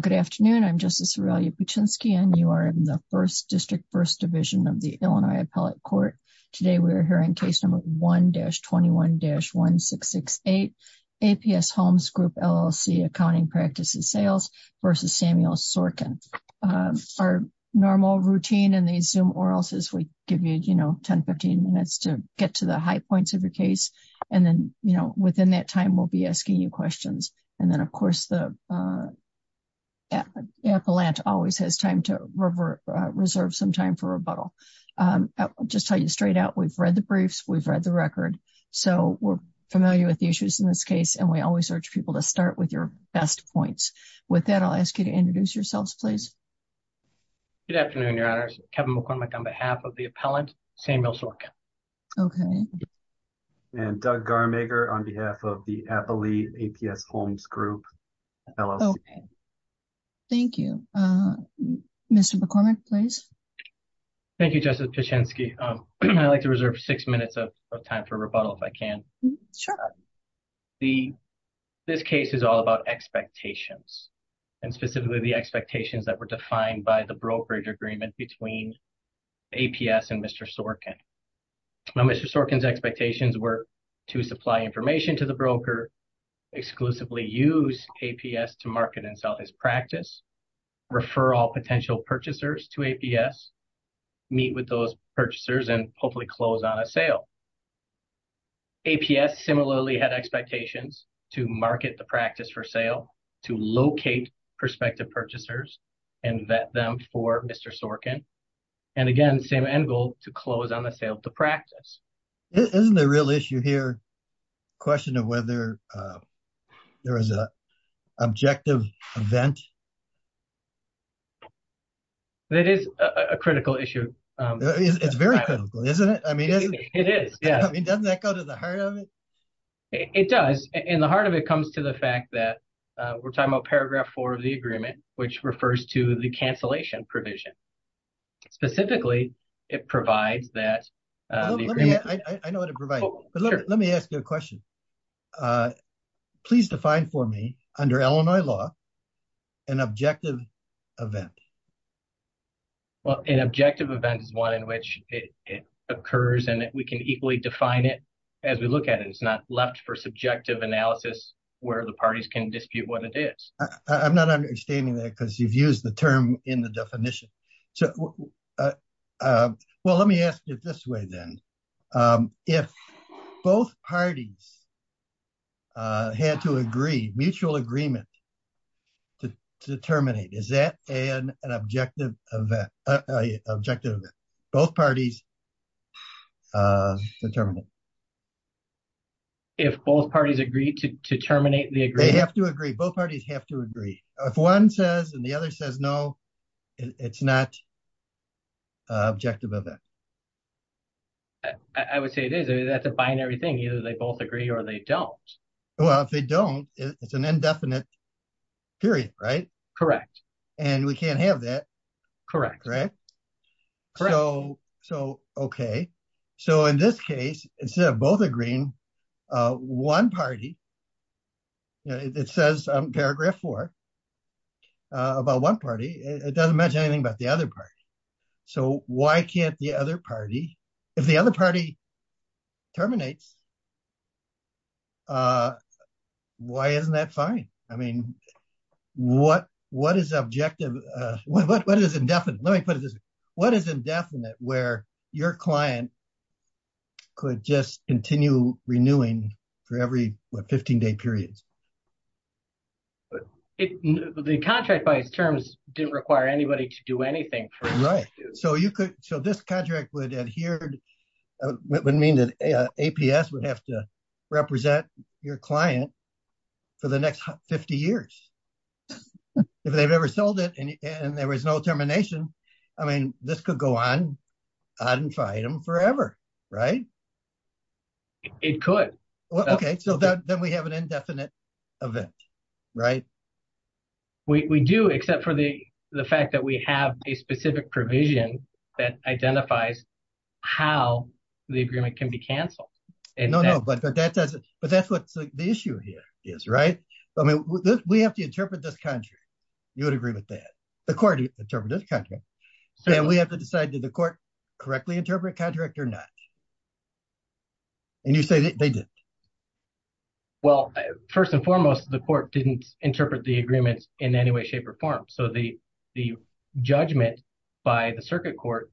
Good afternoon, I'm Justice Aurelia Puchinski and you are in the First District First Division of the Illinois Appellate Court. Today we are hearing case number 1-21-1668 APS Holmes Group, LLC Accounting Practices Sales v. Samuel Sorkin. Our normal routine in the Zoom or else we give you, you know, 10-15 minutes to get to the high points of your case and then, you know, within that time we'll be asking you questions and then, of course, the appellant always has time to reserve some time for rebuttal. I'll just tell you straight out, we've read the briefs, we've read the record, so we're familiar with the issues in this case and we always urge people to start with your best points. With that, I'll ask you to introduce yourselves, please. Good afternoon, Your Honors. Kevin McCormick on behalf of the appellant, Samuel Sorkin. Okay. And Doug Garmager on behalf of the Appellate APS Holmes Group, LLC. Thank you. Mr. McCormick, please. Thank you, Justice Puchinski. I'd like to reserve six minutes of time for rebuttal, if I can. Sure. This case is all about expectations and specifically the expectations that were defined by the brokerage agreement between APS and Mr. Sorkin. Now, Mr. Sorkin's expectations were to supply information to the broker, exclusively use APS to market and sell his practice, refer all potential purchasers to APS, meet with those purchasers and hopefully close on a sale. APS similarly had expectations to market the practice for sale, to locate prospective purchasers and vet them for Mr. Sorkin. And again, same end goal, to close on a sale to practice. Isn't the real issue here, question of whether there is an objective event? That is a critical issue. It's very critical, isn't it? I mean, it is. Yeah. I mean, doesn't that go to the heart of it? It does. In the heart of it comes to the fact that we're talking about paragraph four of the agreement, which refers to the cancellation provision. Specifically, it provides that... I know what it provides, but let me ask you a question. Please define for me, under Illinois law, an objective event. Well, an objective event is one in which it occurs and we can equally define it as we look at it. It's not left for subjective analysis where the parties can dispute what it is. I'm not understanding that because you've used the term in the definition. Well, let me ask it this way then. If both parties had to agree, mutual agreement to terminate, is that an objective event? Both parties agree to terminate the agreement. They have to agree. Both parties have to agree. If one says and the other says no, it's not an objective event. I would say it is. That's a binary thing. Either they both agree or they don't. Well, if they don't, it's an indefinite period, right? Correct. We can't have that. Correct. In this case, instead of both agreeing, one party, it says in paragraph four about one party, it doesn't mention anything about the other party. If the other party terminates, why isn't that fine? What is objective? What is indefinite? Let me put it this way. What is indefinite where your client could just continue renewing for every 15-day period? The contract by its terms didn't require anybody to do anything for it. Right. This contract would mean that APS would have to represent your client for the next 50 years. If they've ever sold it and there was no termination, this could go on forever, right? It could. Then we have an indefinite event, right? We do, except for the fact that we have a specific provision that identifies how the agreement can be canceled. No, but that's what the issue here is, right? We have to interpret this contract. You would agree with that. The court interprets this contract. We have to decide, did the court correctly interpret the contract or not? You say they didn't. Well, first and foremost, the court didn't interpret the agreement in any way, shape, or form. The judgment by the circuit court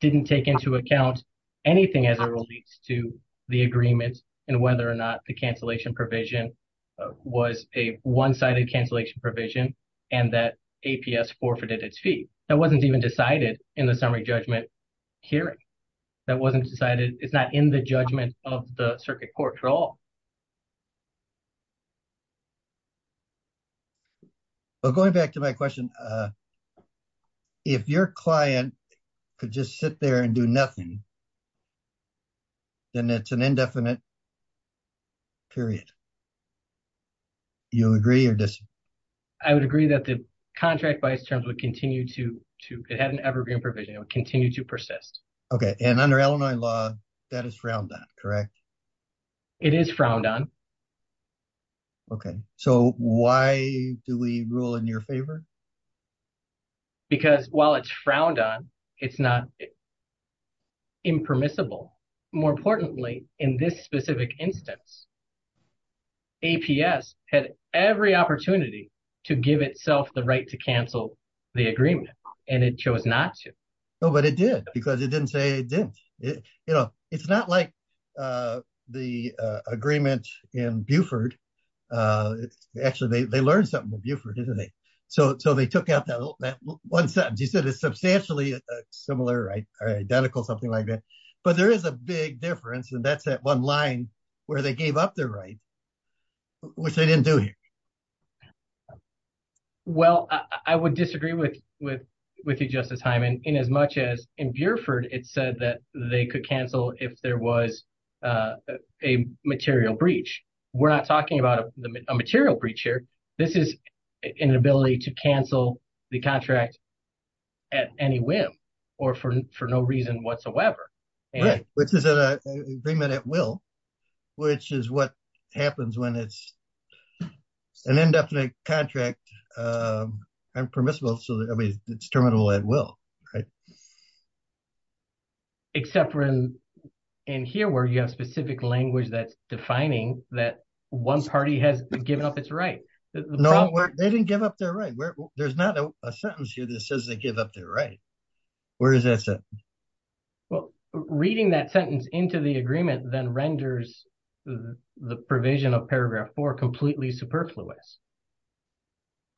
didn't take into account anything as it relates to the agreement and whether or not the cancellation provision was a one-sided cancellation provision and that APS forfeited its fee. That wasn't even decided in the summary judgment hearing. It's not in the judgment of the circuit court at all. Going back to my question, if your client could just sit there and do nothing, then it's an indefinite period. You agree or disagree? I would agree that the contract by its terms would continue to... It had an evergreen provision. It would continue to persist. Okay, and under Illinois law, that is frowned on, correct? It is frowned on. Okay, so why do we rule in your favor? Because while it's frowned on, it's not impermissible. More importantly, in this specific instance, APS had every opportunity to give itself the right to cancel the agreement, and it chose not to. No, but it did because it didn't say it didn't. It's not like the agreement in Buford. It's actually, they learned something from Buford, didn't they? So they took out that one sentence. You said it's substantially similar, identical, something like that. But there is a big difference, and that's that one line where they gave up their right, which they didn't do here. Well, I would disagree with you, Justice Hyman, in as much as in Buford, it said that they could cancel if there was a material breach. We're not talking about a material breach here. This is an ability to cancel the contract at any whim or for no reason whatsoever. Which is an agreement at will, which is what happens when it's an indefinite contract, impermissible, I mean, it's terminable at will. Right. Except for in here where you have specific language that's defining that one party has given up its right. They didn't give up their right. There's not a sentence here that says they give up their right. Where is that sentence? Well, reading that sentence into the agreement then renders the provision of paragraph four completely superfluous.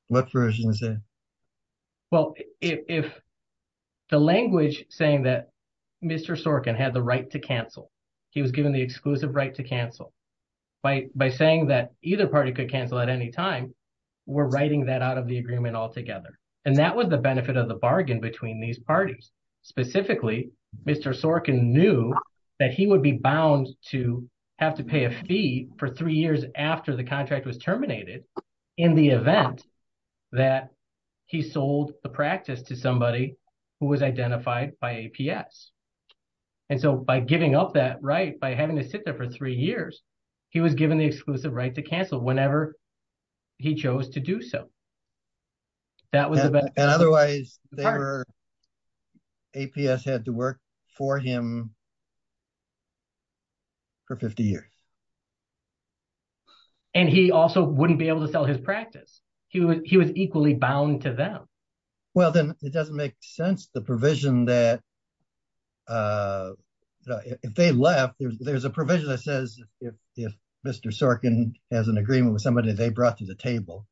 What provision is that? Well, if the language saying that Mr. Sorkin had the right to cancel, he was given the exclusive right to cancel, by saying that either party could cancel at any time, we're writing that out of the agreement altogether. And that was the benefit of the bargain between these parties. Specifically, Mr. Sorkin knew that he would be bound to have to pay a fee for three years after the contract was terminated in the event that he sold the practice to somebody who was identified by APS. And so by giving up that right, by having to sit there for three years, he was given the exclusive right to cancel whenever he chose to do so. That was the benefit. And otherwise, APS had to work for him for 50 years. And he also wouldn't be able to sell his practice. He was equally bound to them. Well, then it doesn't make sense, the provision that, if they left, there's a provision that says if Mr. Sorkin has an agreement with somebody they brought to the table,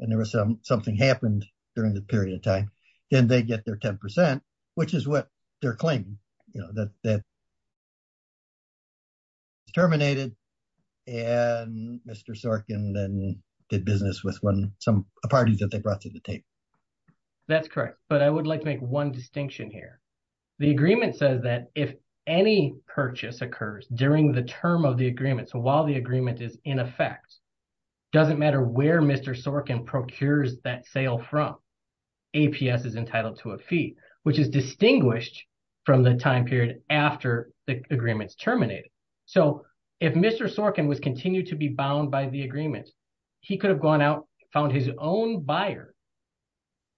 and there was something happened during the period of time, then they get their 10%, which is what they're claiming, that it's terminated and Mr. Sorkin then did business with a party that they brought to the table. That's correct. But I would like to make one distinction here. The agreement says that if any purchase occurs during the term of the agreement, so while the agreement is in effect, doesn't matter where Mr. Sorkin procures that sale from, APS is entitled to a fee, which is distinguished from the time period after the agreement's terminated. So, if Mr. Sorkin was continued to be bound by the agreement, he could have gone out, found his own buyer,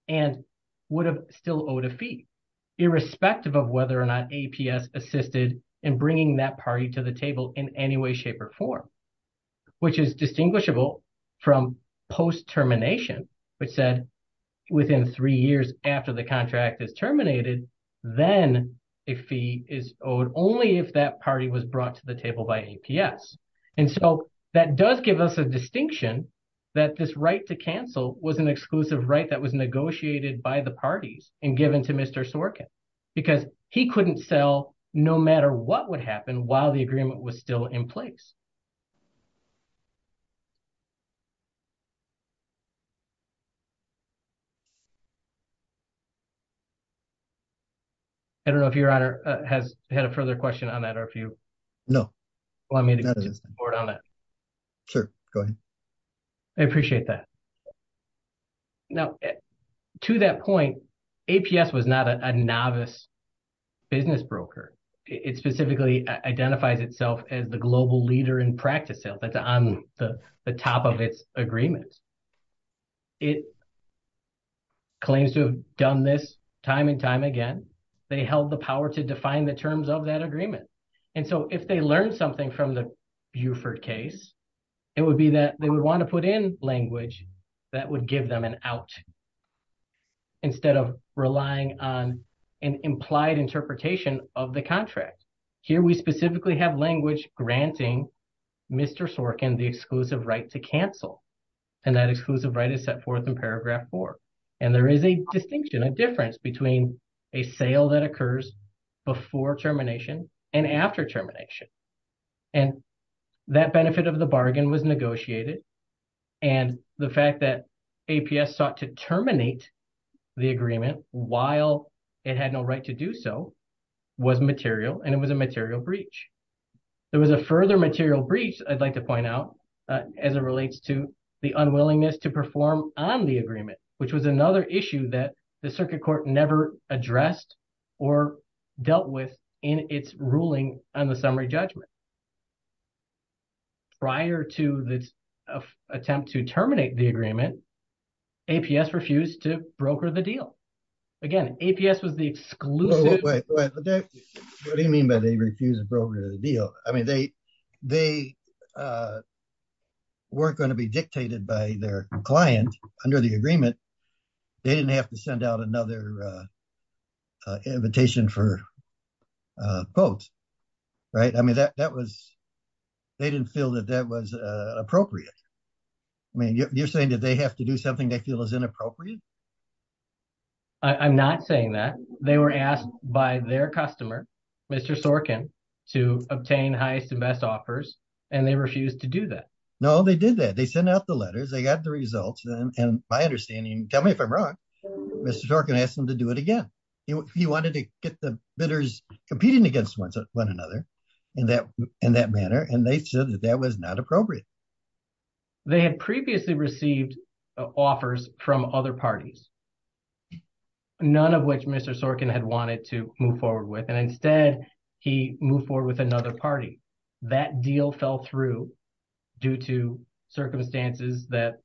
and would have still owed a fee, irrespective of whether or not APS assisted in bringing that party to the table in any way, shape, or form, which is distinguishable from post-termination, which said within three years after the contract is terminated, then a fee is owed only if that party was brought to the table by APS. And so, that does give us a distinction that this right to cancel was an exclusive right that was negotiated by the parties and given to Mr. Sorkin, because he couldn't sell no matter what would happen while the agreement was still in place. I don't know if Your Honor has had a further question on that, or if you want me to get more on that. Sure, go ahead. I appreciate that. Now, to that point, APS was not a novice business broker. It specifically identifies itself as the global leader in practice sales. That's on the top of its agreement. It claims to have done this time and time again. They held the power to define the terms of that agreement. And so, if they learned something from the Buford case, it would be that they would want to put in language that would give them an out, instead of relying on an implied interpretation of the contract. Here, we specifically have language granting Mr. Sorkin the exclusive right to cancel. And that exclusive right is set forth in paragraph four. And there is a distinction, a difference between a sale that occurs before termination and after termination. And that benefit of the bargain was negotiated. And the fact that APS sought to terminate the agreement while it had no right to do so was material, and it was a material breach. There was a further material breach, I'd like to point out, as it relates to the unwillingness to perform on the agreement, which was another issue that the Circuit Court never addressed or dealt with in its ruling on the summary judgment. Prior to the attempt to terminate the agreement, APS refused to broker the deal. Again, APS was the exclusive... Wait, what do you mean by they refused to broker the deal? I mean, they weren't going to be dictated by their client under the agreement. They didn't have to send out another invitation for a quote, right? I mean, that was, they didn't feel that that was appropriate. I mean, you're saying that they have to do something they feel is inappropriate? I'm not saying that. They were asked by their customer, Mr. Sorkin, to obtain highest and best offers, and they refused to do that. No, they did that. They sent out the letters, they got the results, and my understanding, tell me if I'm wrong, Mr. Sorkin asked them to do it again. He wanted to get the bidders competing against one another in that manner, and they said that that was not appropriate. They had previously received offers from other parties. None of which Mr. Sorkin had wanted to move forward with, and instead, he moved forward with another party. That deal fell through due to circumstances that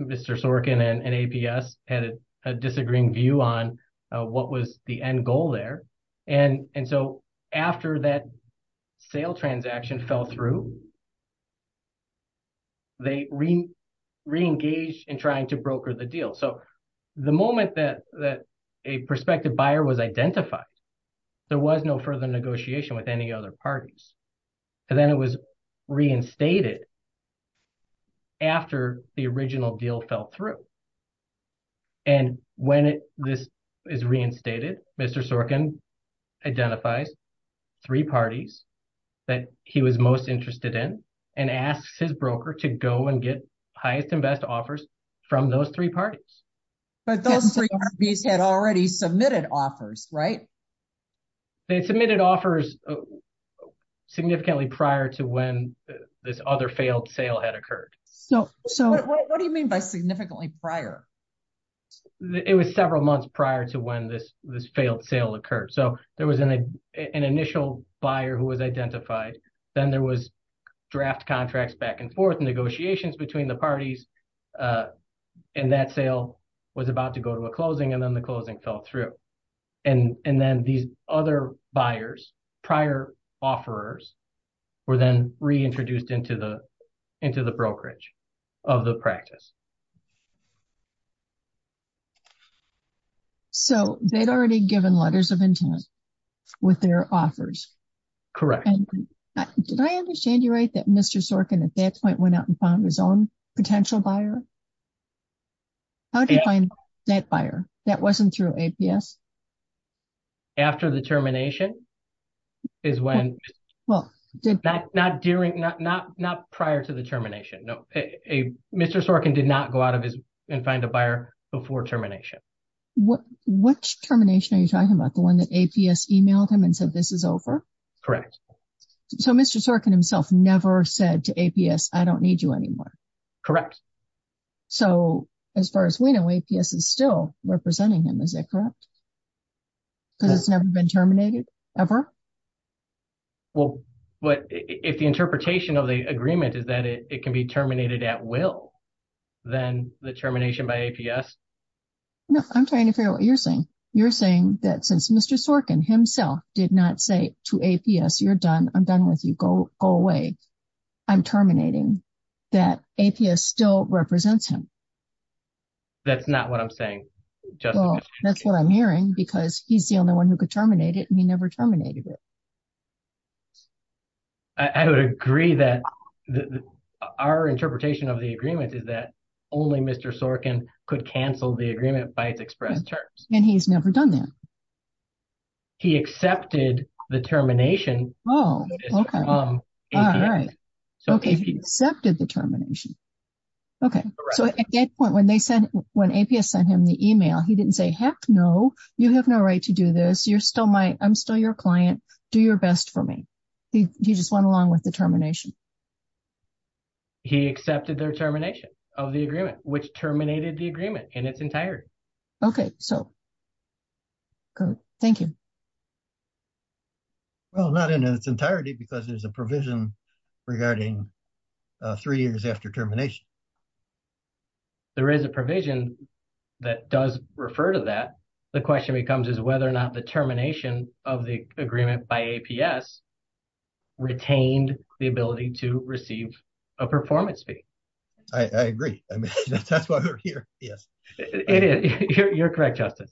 Mr. Sorkin and APS had a disagreeing view on what was the end goal there. And so, after that sale transaction fell through, they re-engaged in trying to broker the deal. So, the moment that a prospective buyer was identified, there was no further negotiation with any other parties. And then it was reinstated after the original deal fell through. And when this is reinstated, Mr. Sorkin identifies three parties that he was most interested in and asks his broker to go and get highest and best offers from those three parties. But those three parties had already submitted offers, right? They submitted offers significantly prior to when this other failed sale had occurred. What do you mean by significantly prior? It was several months prior to when this failed sale occurred. So, there was an initial buyer who was identified, then there was draft contracts back and forth, negotiations between the parties, and that sale was about to go to a closing and then the closing fell through. And then these other buyers, prior offerers, were then reintroduced into the brokerage of the practice. So, they'd already given letters of intent with their offers? Correct. Did I understand you right that Mr. Sorkin, at that point, went out and found his own potential buyer? How did he find that buyer? That wasn't through APS? After the termination is when... Not prior to the termination. No, Mr. Sorkin did not go out and find a buyer before termination. Which termination are you talking about? The one that APS emailed him and said, this is over? Correct. So, Mr. Sorkin himself never said to APS, I don't need you anymore? Correct. So, as far as we know, APS is still representing him, is that correct? Because it's never been terminated, ever? Well, if the interpretation of the agreement is that it can be terminated at will, then the termination by APS... No, I'm trying to figure out what you're saying. You're saying that since Mr. Sorkin himself did not say to APS, I'm done with you, go away, I'm terminating, that APS still represents him? That's not what I'm saying. That's what I'm hearing because he's the only one who could terminate it and he never terminated it. I would agree that our interpretation of the agreement is that only Mr. Sorkin could cancel the agreement by its expressed terms. And he's never done that. He accepted the termination. Oh, okay. From APS. All right. Okay, he accepted the termination. Okay. So, at that point, when APS sent him the email, he didn't say, heck no, you have no right to do this, I'm still your client, do your best for me. He just went along with the termination. He accepted their termination of the agreement, which terminated the agreement in its entirety. Okay, so, thank you. Well, not in its entirety because there's a provision regarding three years after termination. There is a provision that does refer to that. The question becomes is whether or not the termination of the agreement by APS retained the ability to receive a performance fee. I agree, that's why we're here, yes. It is. You're correct, Justice.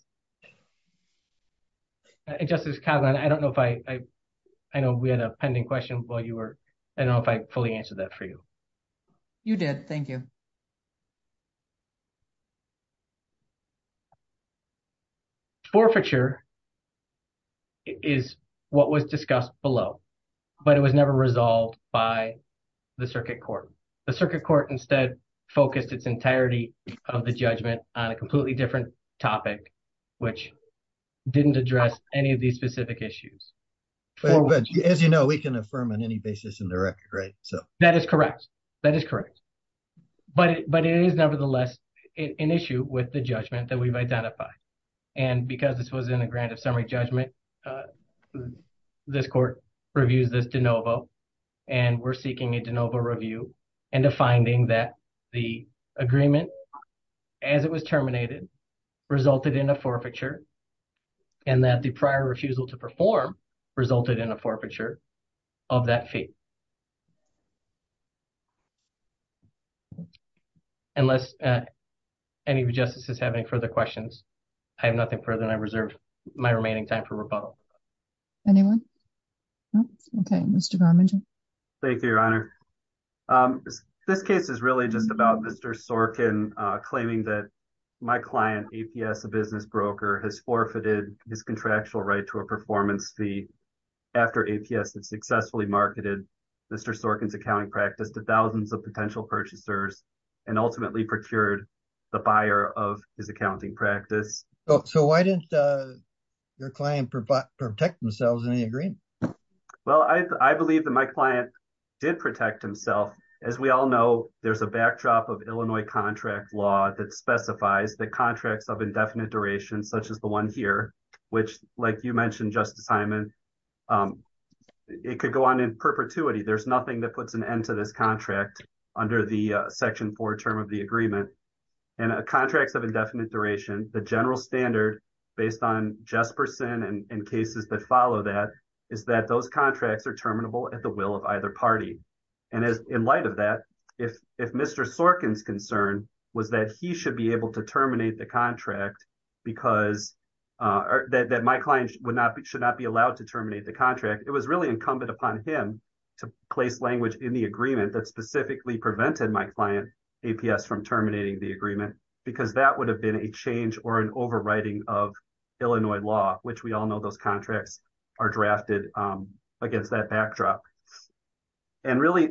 Justice Kavanaugh, I don't know if I... I know we had a pending question while you were... I don't know if I fully answered that for you. You did, thank you. Forfeiture is what was discussed below, but it was never resolved by the circuit court. The circuit court instead focused its entirety of the judgment on a completely different topic, which didn't address any of these specific issues. As you know, we can affirm on any basis in the record, right? That is correct, that is correct. But it is, nevertheless, an issue with the judgment that we've identified. Because this was in a grant of summary judgment, this court reviews this de novo, and we're seeking a de novo review, and a finding that the agreement, as it was terminated, resulted in a forfeiture, and that the prior refusal to perform resulted in a forfeiture of that fee. Unless any of you justices have any further questions, I have nothing further than I reserve my remaining time for rebuttal. Anyone? Okay, Mr. Garmin. Thank you, Your Honor. This case is really just about Mr. Sorkin claiming that my client, APS, a business broker, has forfeited his contractual right to a performance fee after APS had successfully marketed Mr. Sorkin's accounting practice to thousands of potential purchasers, and ultimately procured the buyer of his accounting practice. So why didn't your client protect themselves in the agreement? Well, I believe that my client did protect himself. As we all know, there's a backdrop of Illinois contract law that specifies that contracts of indefinite duration, such as the one here, which, like you mentioned, Justice Hyman, it could go on in perpetuity. There's nothing that puts an end to this contract under the section four term of the agreement. And contracts of indefinite duration, the general standard, based on Jesperson and cases that follow that, is that those contracts are terminable at the will of either party. And in light of that, if Mr. Sorkin's concern was that he should be able to terminate the contract because that my client should not be allowed to terminate the contract, it was really incumbent upon him to place language in the agreement that specifically prevented my client, APS, from terminating the agreement because that would have been a change or an overwriting of Illinois law, which we all know those contracts are drafted against that backdrop. And really,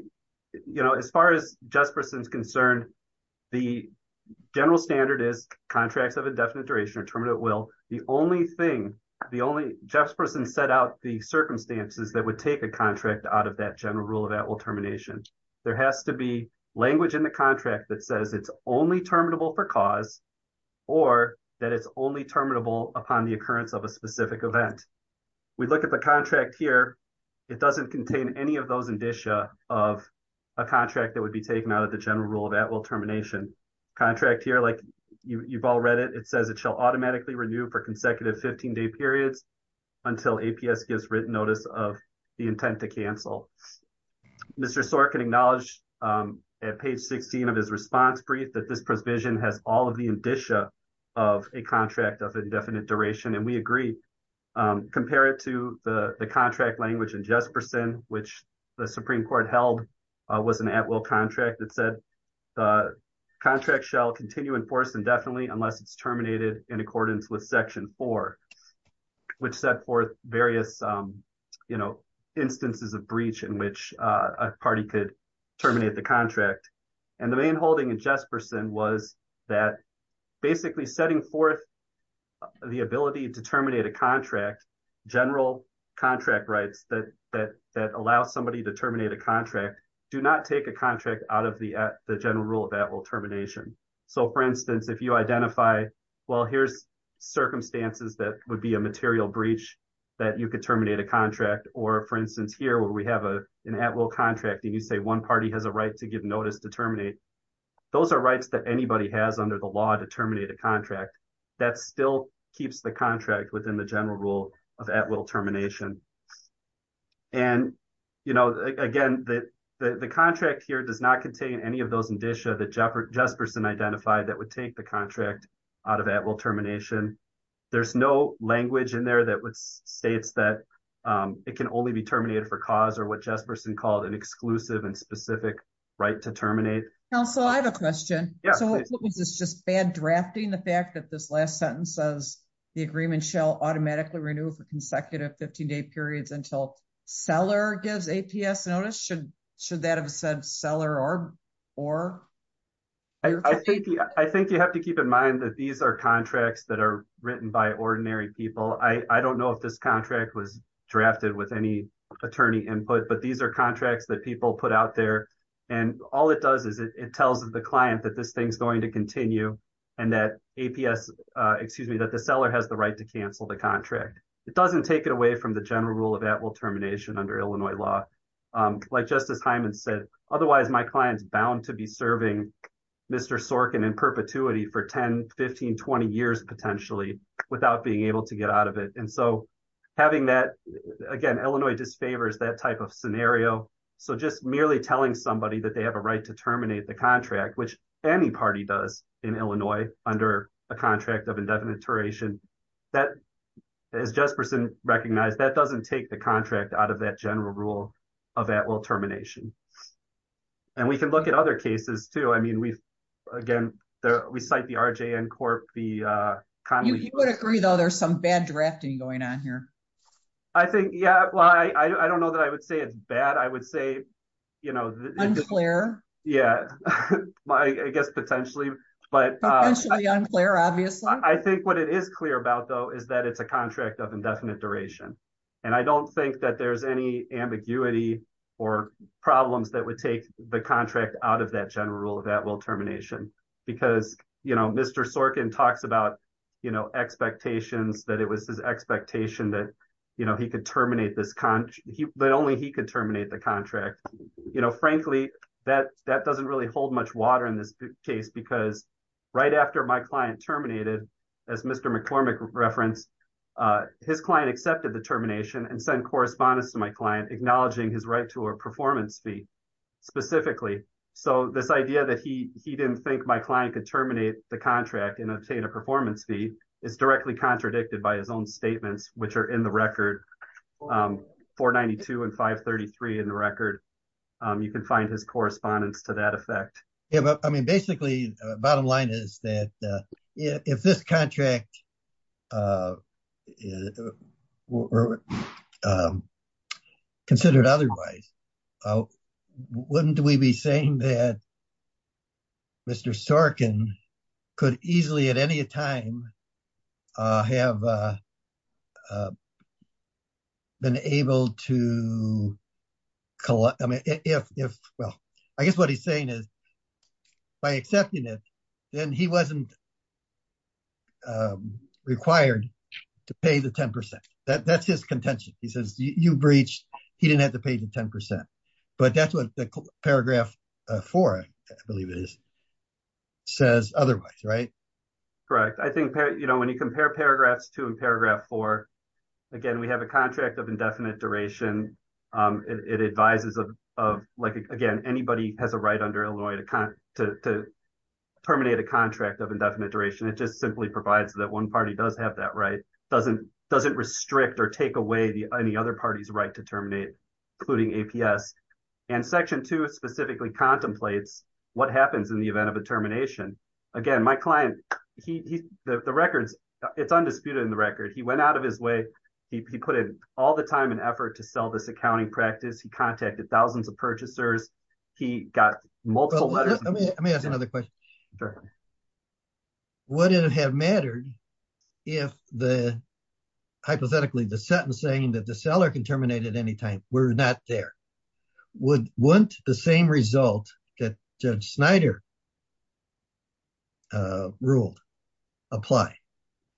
as far as Jesperson's concern, the general standard is contracts of indefinite duration are terminated at will. The only thing, Jesperson set out the circumstances that would take a contract out of that general rule of at-will termination. There has to be language in the contract that says it's only terminable for cause or that it's only terminable upon the occurrence of a specific event. We look at the contract here, it doesn't contain any of those indicia of a contract that would be taken out of the general rule of at-will termination. Contract here, like you've all read it, it says it shall automatically renew for consecutive 15-day periods until APS gives written notice of the intent to cancel. Mr. Sorkin acknowledged at page 16 of his response brief that this provision has all of the indicia of a contract of indefinite duration, and we agree. Compare it to the contract language in Jesperson, which the Supreme Court held was an at-will contract that said the contract shall continue in force indefinitely unless it's terminated in accordance with section four, which set forth various instances of breach in which a party could terminate the contract. And the main holding in Jesperson was that basically setting forth the ability to terminate a contract, general contract rights that allow somebody to terminate a contract do not take a contract out of the general rule of at-will termination. So for instance, if you identify, well, here's circumstances that would be a material breach that you could terminate a contract, or for instance here, where we have an at-will contract and you say one party has a right to give notice to terminate, those are rights that anybody has under the law to terminate a contract. That still keeps the contract within the general rule of at-will termination. And again, the contract here does not contain any of those indicia that Jesperson identified that would take the contract out of at-will termination. There's no language in there that states that it can only be terminated for cause or what Jesperson called an exclusive and specific right to terminate. Council, I have a question. So is this just bad drafting? The fact that this last sentence says the agreement shall automatically renew for consecutive 15 day periods until seller gives APS notice, should that have said seller or? I think you have to keep in mind that these are contracts that are written by ordinary people. I don't know if this contract was drafted with any attorney input, but these are contracts that people put out there. And all it does is it tells the client that this thing's going to continue and that APS, excuse me, that the seller has the right to cancel the contract. It doesn't take it away from the general rule of at-will termination under Illinois law. Like Justice Hyman said, otherwise my client's bound to be serving Mr. Sorkin in perpetuity for 10, 15, 20 years potentially without being able to get out of it. And so having that, again, Illinois just favors that type of scenario. So just merely telling somebody that they have a right to terminate the contract, which any party does in Illinois under a contract of indefinite duration, that as Jesperson recognized, that doesn't take the contract out of that general rule of at-will termination. And we can look at other cases too. I mean, we've, again, we cite the RJN Corp, the Conley- You would agree though, there's some bad drafting going on here. I think, yeah. Well, I don't know that I would say it's bad. I would say, you know- Unclear. Yeah, I guess potentially, but- Potentially unclear, obviously. I think what it is clear about though is that it's a contract of indefinite duration. And I don't think that there's any ambiguity or problems that would take the contract out of that general rule of at-will termination. Because, you know, Mr. Sorkin talks about, you know, expectations, that it was his expectation that, you know, he could terminate this con- That only he could terminate the contract. You know, frankly, that doesn't really hold much water in this case because right after my client terminated, as Mr. McCormick referenced, his client accepted the termination and sent correspondence to my client acknowledging his right to a performance fee specifically. So this idea that he didn't think my client could terminate the contract and obtain a performance fee is directly contradicted by his own statements, which are in the record, 492 and 533 in the record. You can find his correspondence to that effect. Yeah, but I mean, basically, bottom line is that if this contract considered otherwise, wouldn't we be saying that Mr. Sorkin could easily at any time have been able to collect, I mean, if, well, I guess what he's saying is by accepting it, then he wasn't required to pay the 10%. That's his contention. He says, you breached, he didn't have to pay the 10%, but that's what the paragraph four, I believe it is, says otherwise, right? Correct. I think, you know, when you compare paragraphs two and paragraph four, again, we have a contract of indefinite duration. It advises of like, again, anybody has a right under Illinois to terminate a contract of indefinite duration. It just simply provides that one party does have that right, doesn't restrict or take away any other party's right to terminate, including APS. And section two specifically contemplates what happens in the event of a termination. Again, my client, the records, it's undisputed in the record. He went out of his way. He put in all the time and effort to sell this accounting practice. He contacted thousands of purchasers. He got multiple letters. Let me ask another question. Would it have mattered if hypothetically the sentence saying that the seller can terminate at any time? We're not there. Wouldn't the same result that Judge Snyder ruled apply?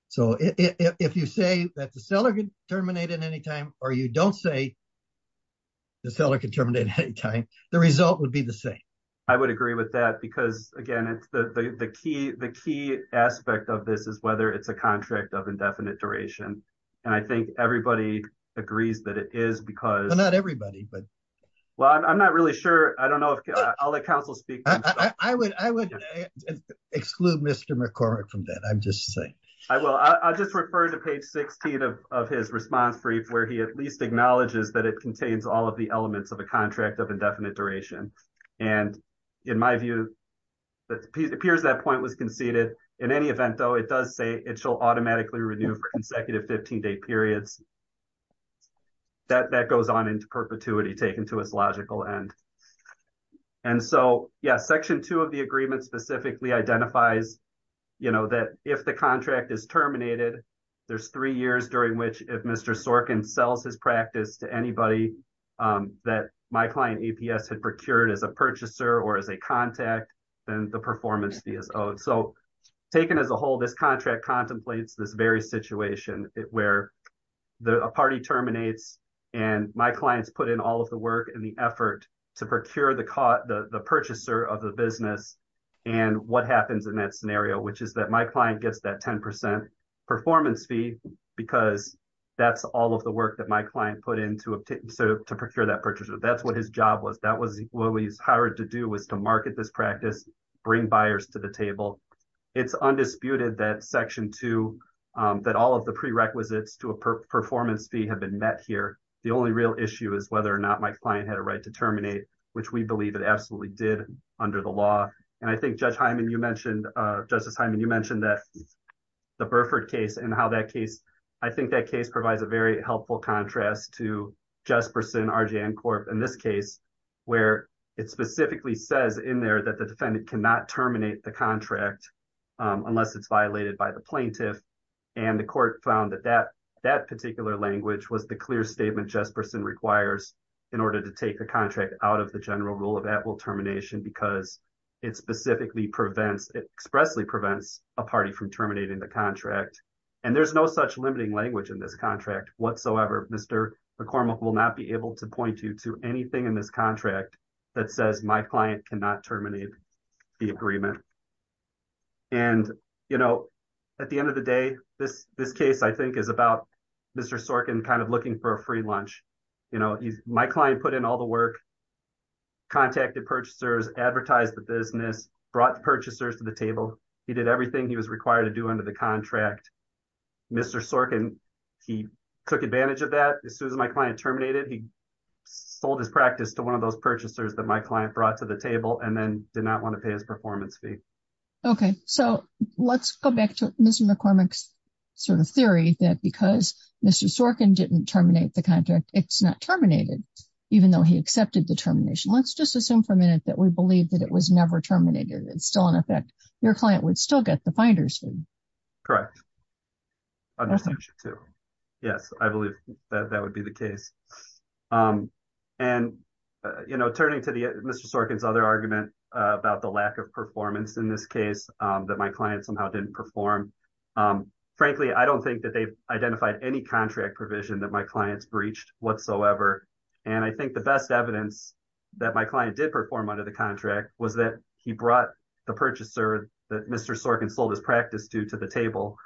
So if you say that the seller can terminate at any time, or you don't say the seller can terminate at any time, the result would be the same. I would agree with that because again, the key aspect of this is whether it's a contract of indefinite duration. And I think everybody agrees that it is because- Well, not everybody, but- Well, I'm not really sure. I don't know if I'll let counsel speak. I would exclude Mr. McCormick from that. I'm just saying. I will. I'll just refer to page 16 of his response brief, where he at least acknowledges that it contains all of the elements of a contract of indefinite duration. And in my view, it appears that point was conceded. In any event though, it does say it shall automatically renew for consecutive 15-day periods. That goes on into perpetuity taken to its logical end. And so yeah, section two of the agreement specifically identifies that if the contract is terminated, there's three years during which if Mr. Sorkin sells his practice to anybody that my client APS had procured as a purchaser or as a contact, then the performance fee is owed. So taken as a whole, this contract contemplates this very situation where a party terminates and my clients put in all of the work and the effort to procure the purchaser of the business. And what happens in that scenario, which is that my client gets that 10% performance fee, because that's all of the work that my client put in to procure that purchaser. That's what his job was. What he's hired to do was to market this practice, bring buyers to the table. It's undisputed that section two, that all of the prerequisites to a performance fee have been met here. The only real issue is whether or not my client had a right to terminate, which we believe it absolutely did under the law. And I think Judge Hyman, you mentioned, Justice Hyman, you mentioned that the Burford case and how that case, I think that case provides a very helpful contrast to Jesperson, RGN Corp in this case, where it specifically says in there that the defendant cannot terminate the contract unless it's violated by the plaintiff. And the court found that that particular language was the clear statement Jesperson requires in order to take the contract out of the general rule of at-will termination, because it specifically prevents, it expressly prevents a party from terminating the contract. And there's no such limiting language in this contract whatsoever. Mr. McCormick will not be able to point you to anything in this contract that says my client cannot terminate the agreement. And at the end of the day, this case I think is about Mr. Sorkin kind of looking for a free lunch. My client put in all the work, contacted purchasers, advertised the business, brought the purchasers to the table. He did everything he was required to do under the contract. Mr. Sorkin, he took advantage of that. As soon as my client terminated, he sold his practice to one of those purchasers that my client brought to the table and then did not want to pay his performance fee. Okay. So let's go back to Mr. McCormick's sort of theory that because Mr. Sorkin didn't terminate the contract, it's not terminated, even though he accepted the termination. Let's just assume for a minute that we believe that it was never terminated. It's still in effect. Correct. Yes, I believe that that would be the case. And, you know, turning to Mr. Sorkin's other argument about the lack of performance in this case that my client somehow didn't perform. Frankly, I don't think that they've identified any contract provision that my client's breached whatsoever. And I think the best evidence that my client did perform under the contract was that he brought the purchaser that Mr. Sorkin sold his practice to to the table.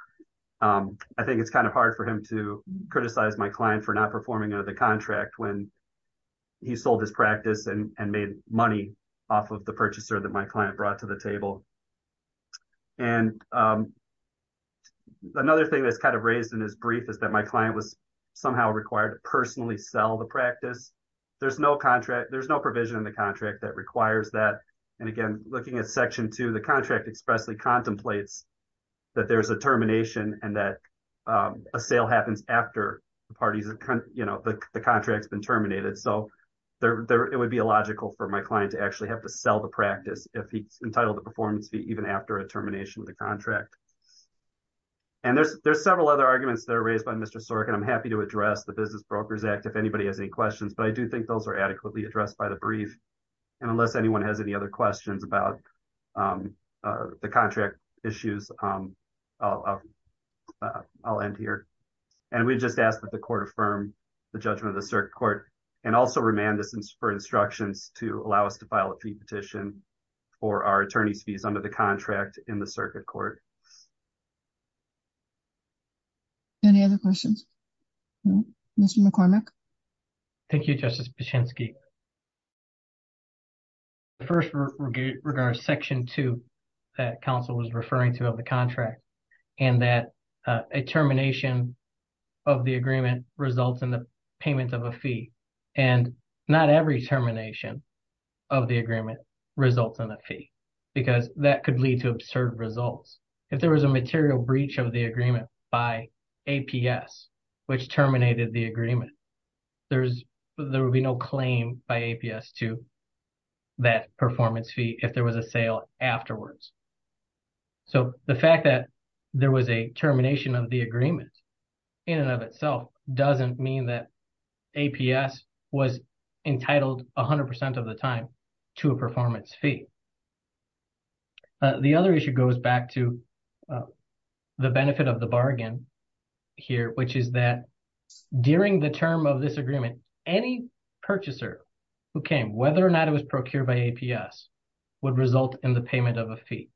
I think it's kind of hard for him to criticize my client for not performing under the contract when he sold his practice and made money off of the purchaser that my client brought to the table. And another thing that's kind of raised in his brief is that my client was somehow required to personally sell the practice. There's no contract, there's no provision in the contract that requires that. And again, looking at section two, the contract expressly contemplates that there's a termination and that a sale happens after the contract's been terminated. So it would be illogical for my client to actually have to sell the practice if he's entitled to performance fee even after a termination of the contract. And there's several other arguments that are raised by Mr. Sorkin. I'm happy to address the Business Brokers Act if anybody has any questions, but I do think those are adequately addressed by the brief. And unless anyone has any other questions about the contract issues, I'll end here. And we just ask that the court affirm the judgment of the circuit court and also remand us for instructions to allow us to file a fee petition for our attorney's fees under the contract in the circuit court. Any other questions? Mr. McCormick. Thank you, Justice Pachinksi. The first regard is section two that counsel was referring to of the contract and that a termination of the agreement results in the payment of a fee. And not every termination of the agreement results in a fee because that could lead to absurd results. If there was a material breach of the agreement by APS, which terminated the agreement, there would be no claim by APS to that performance fee if there was a sale afterwards. So the fact that there was a termination of the agreement in and of itself doesn't mean that APS was entitled 100% of the time to a performance fee. The other issue goes back to the benefit of the bargain here, which is that during the term of this agreement, any purchaser who came, whether or not it was procured by APS, would result in the payment of a fee.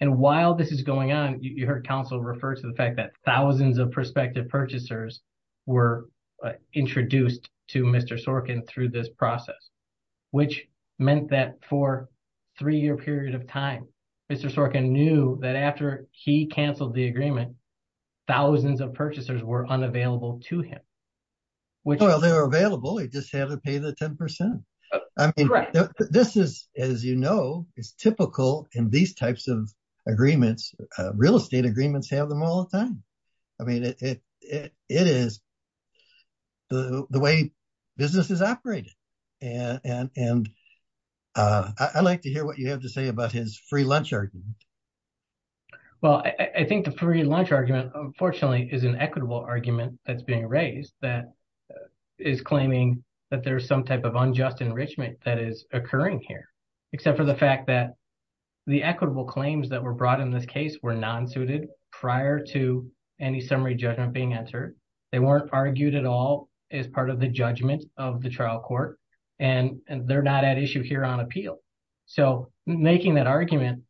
And while this is going on, you heard counsel refer to the fact that thousands of prospective purchasers were introduced to Mr. Sorkin through this process, which meant that for a three-year period of time, Mr. Sorkin knew that after he canceled the agreement, thousands of purchasers were unavailable to him. Well, they were available, he just had to pay the 10%. I mean, this is, as you know, it's typical in these types of agreements, real estate agreements have them all the time. I mean, it is the way business is operated. And I'd like to hear what you have to say about his free lunch argument. Well, I think the free lunch argument, unfortunately, is an equitable argument that's being raised that is claiming that there's some type of unjust enrichment that is occurring here, except for the fact that the equitable claims that were brought in this case were non-suited prior to any summary judgment being entered. They weren't argued at all as part of the judgment of the trial court, and they're not at issue here on appeal. So making that argument,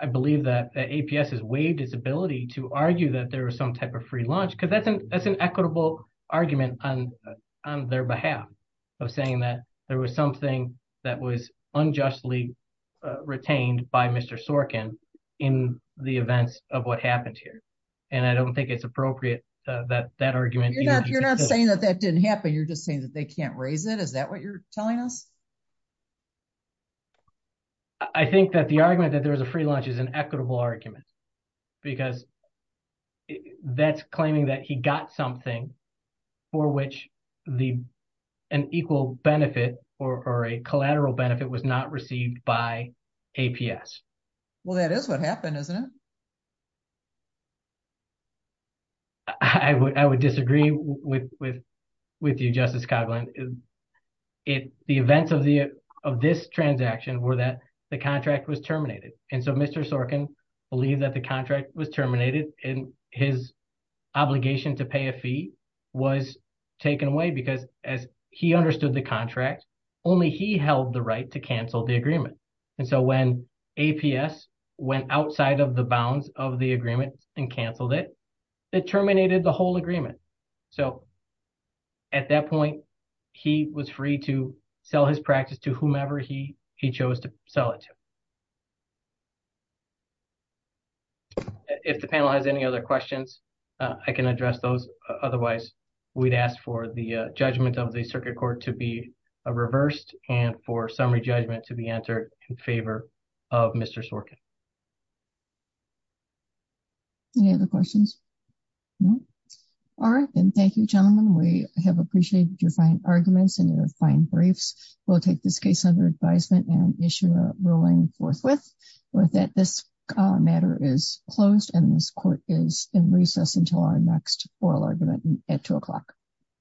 I believe that APS has waived its ability to argue that there was some type of free lunch because that's an equitable argument on their behalf of saying that there was something that was unjustly retained by Mr. Sorkin in the events of what happened here. And I don't think it's appropriate that that argument- You're not saying that that didn't happen. You're just saying that they can't raise it. Is that what you're telling us? I think that the argument that there was a free lunch is an equitable argument because that's claiming that he got something for which an equal benefit or a collateral benefit was not received by APS. Well, that is what happened, isn't it? I would disagree with you, Justice Coghlan. The events of this transaction were that the contract was terminated. And so Mr. Sorkin believed that the contract was terminated and his obligation to pay a fee was taken away because as he understood the contract, only he held the right to cancel the agreement. And so when APS went outside of the bounds of the agreement and canceled it, it terminated the whole agreement. So at that point, he was free to sell his practice to whomever he chose to sell it to. If the panel has any other questions, I can address those. Otherwise, we'd ask for the judgment of the circuit court to be reversed and for summary judgment to be entered in favor of Mr. Sorkin. Any other questions? All right. And thank you, gentlemen. We have appreciated your fine arguments and your fine briefs. We'll take this case under advisement and issue a ruling forthwith. This matter is closed, and this court is in recess until our next oral argument at 2 o'clock.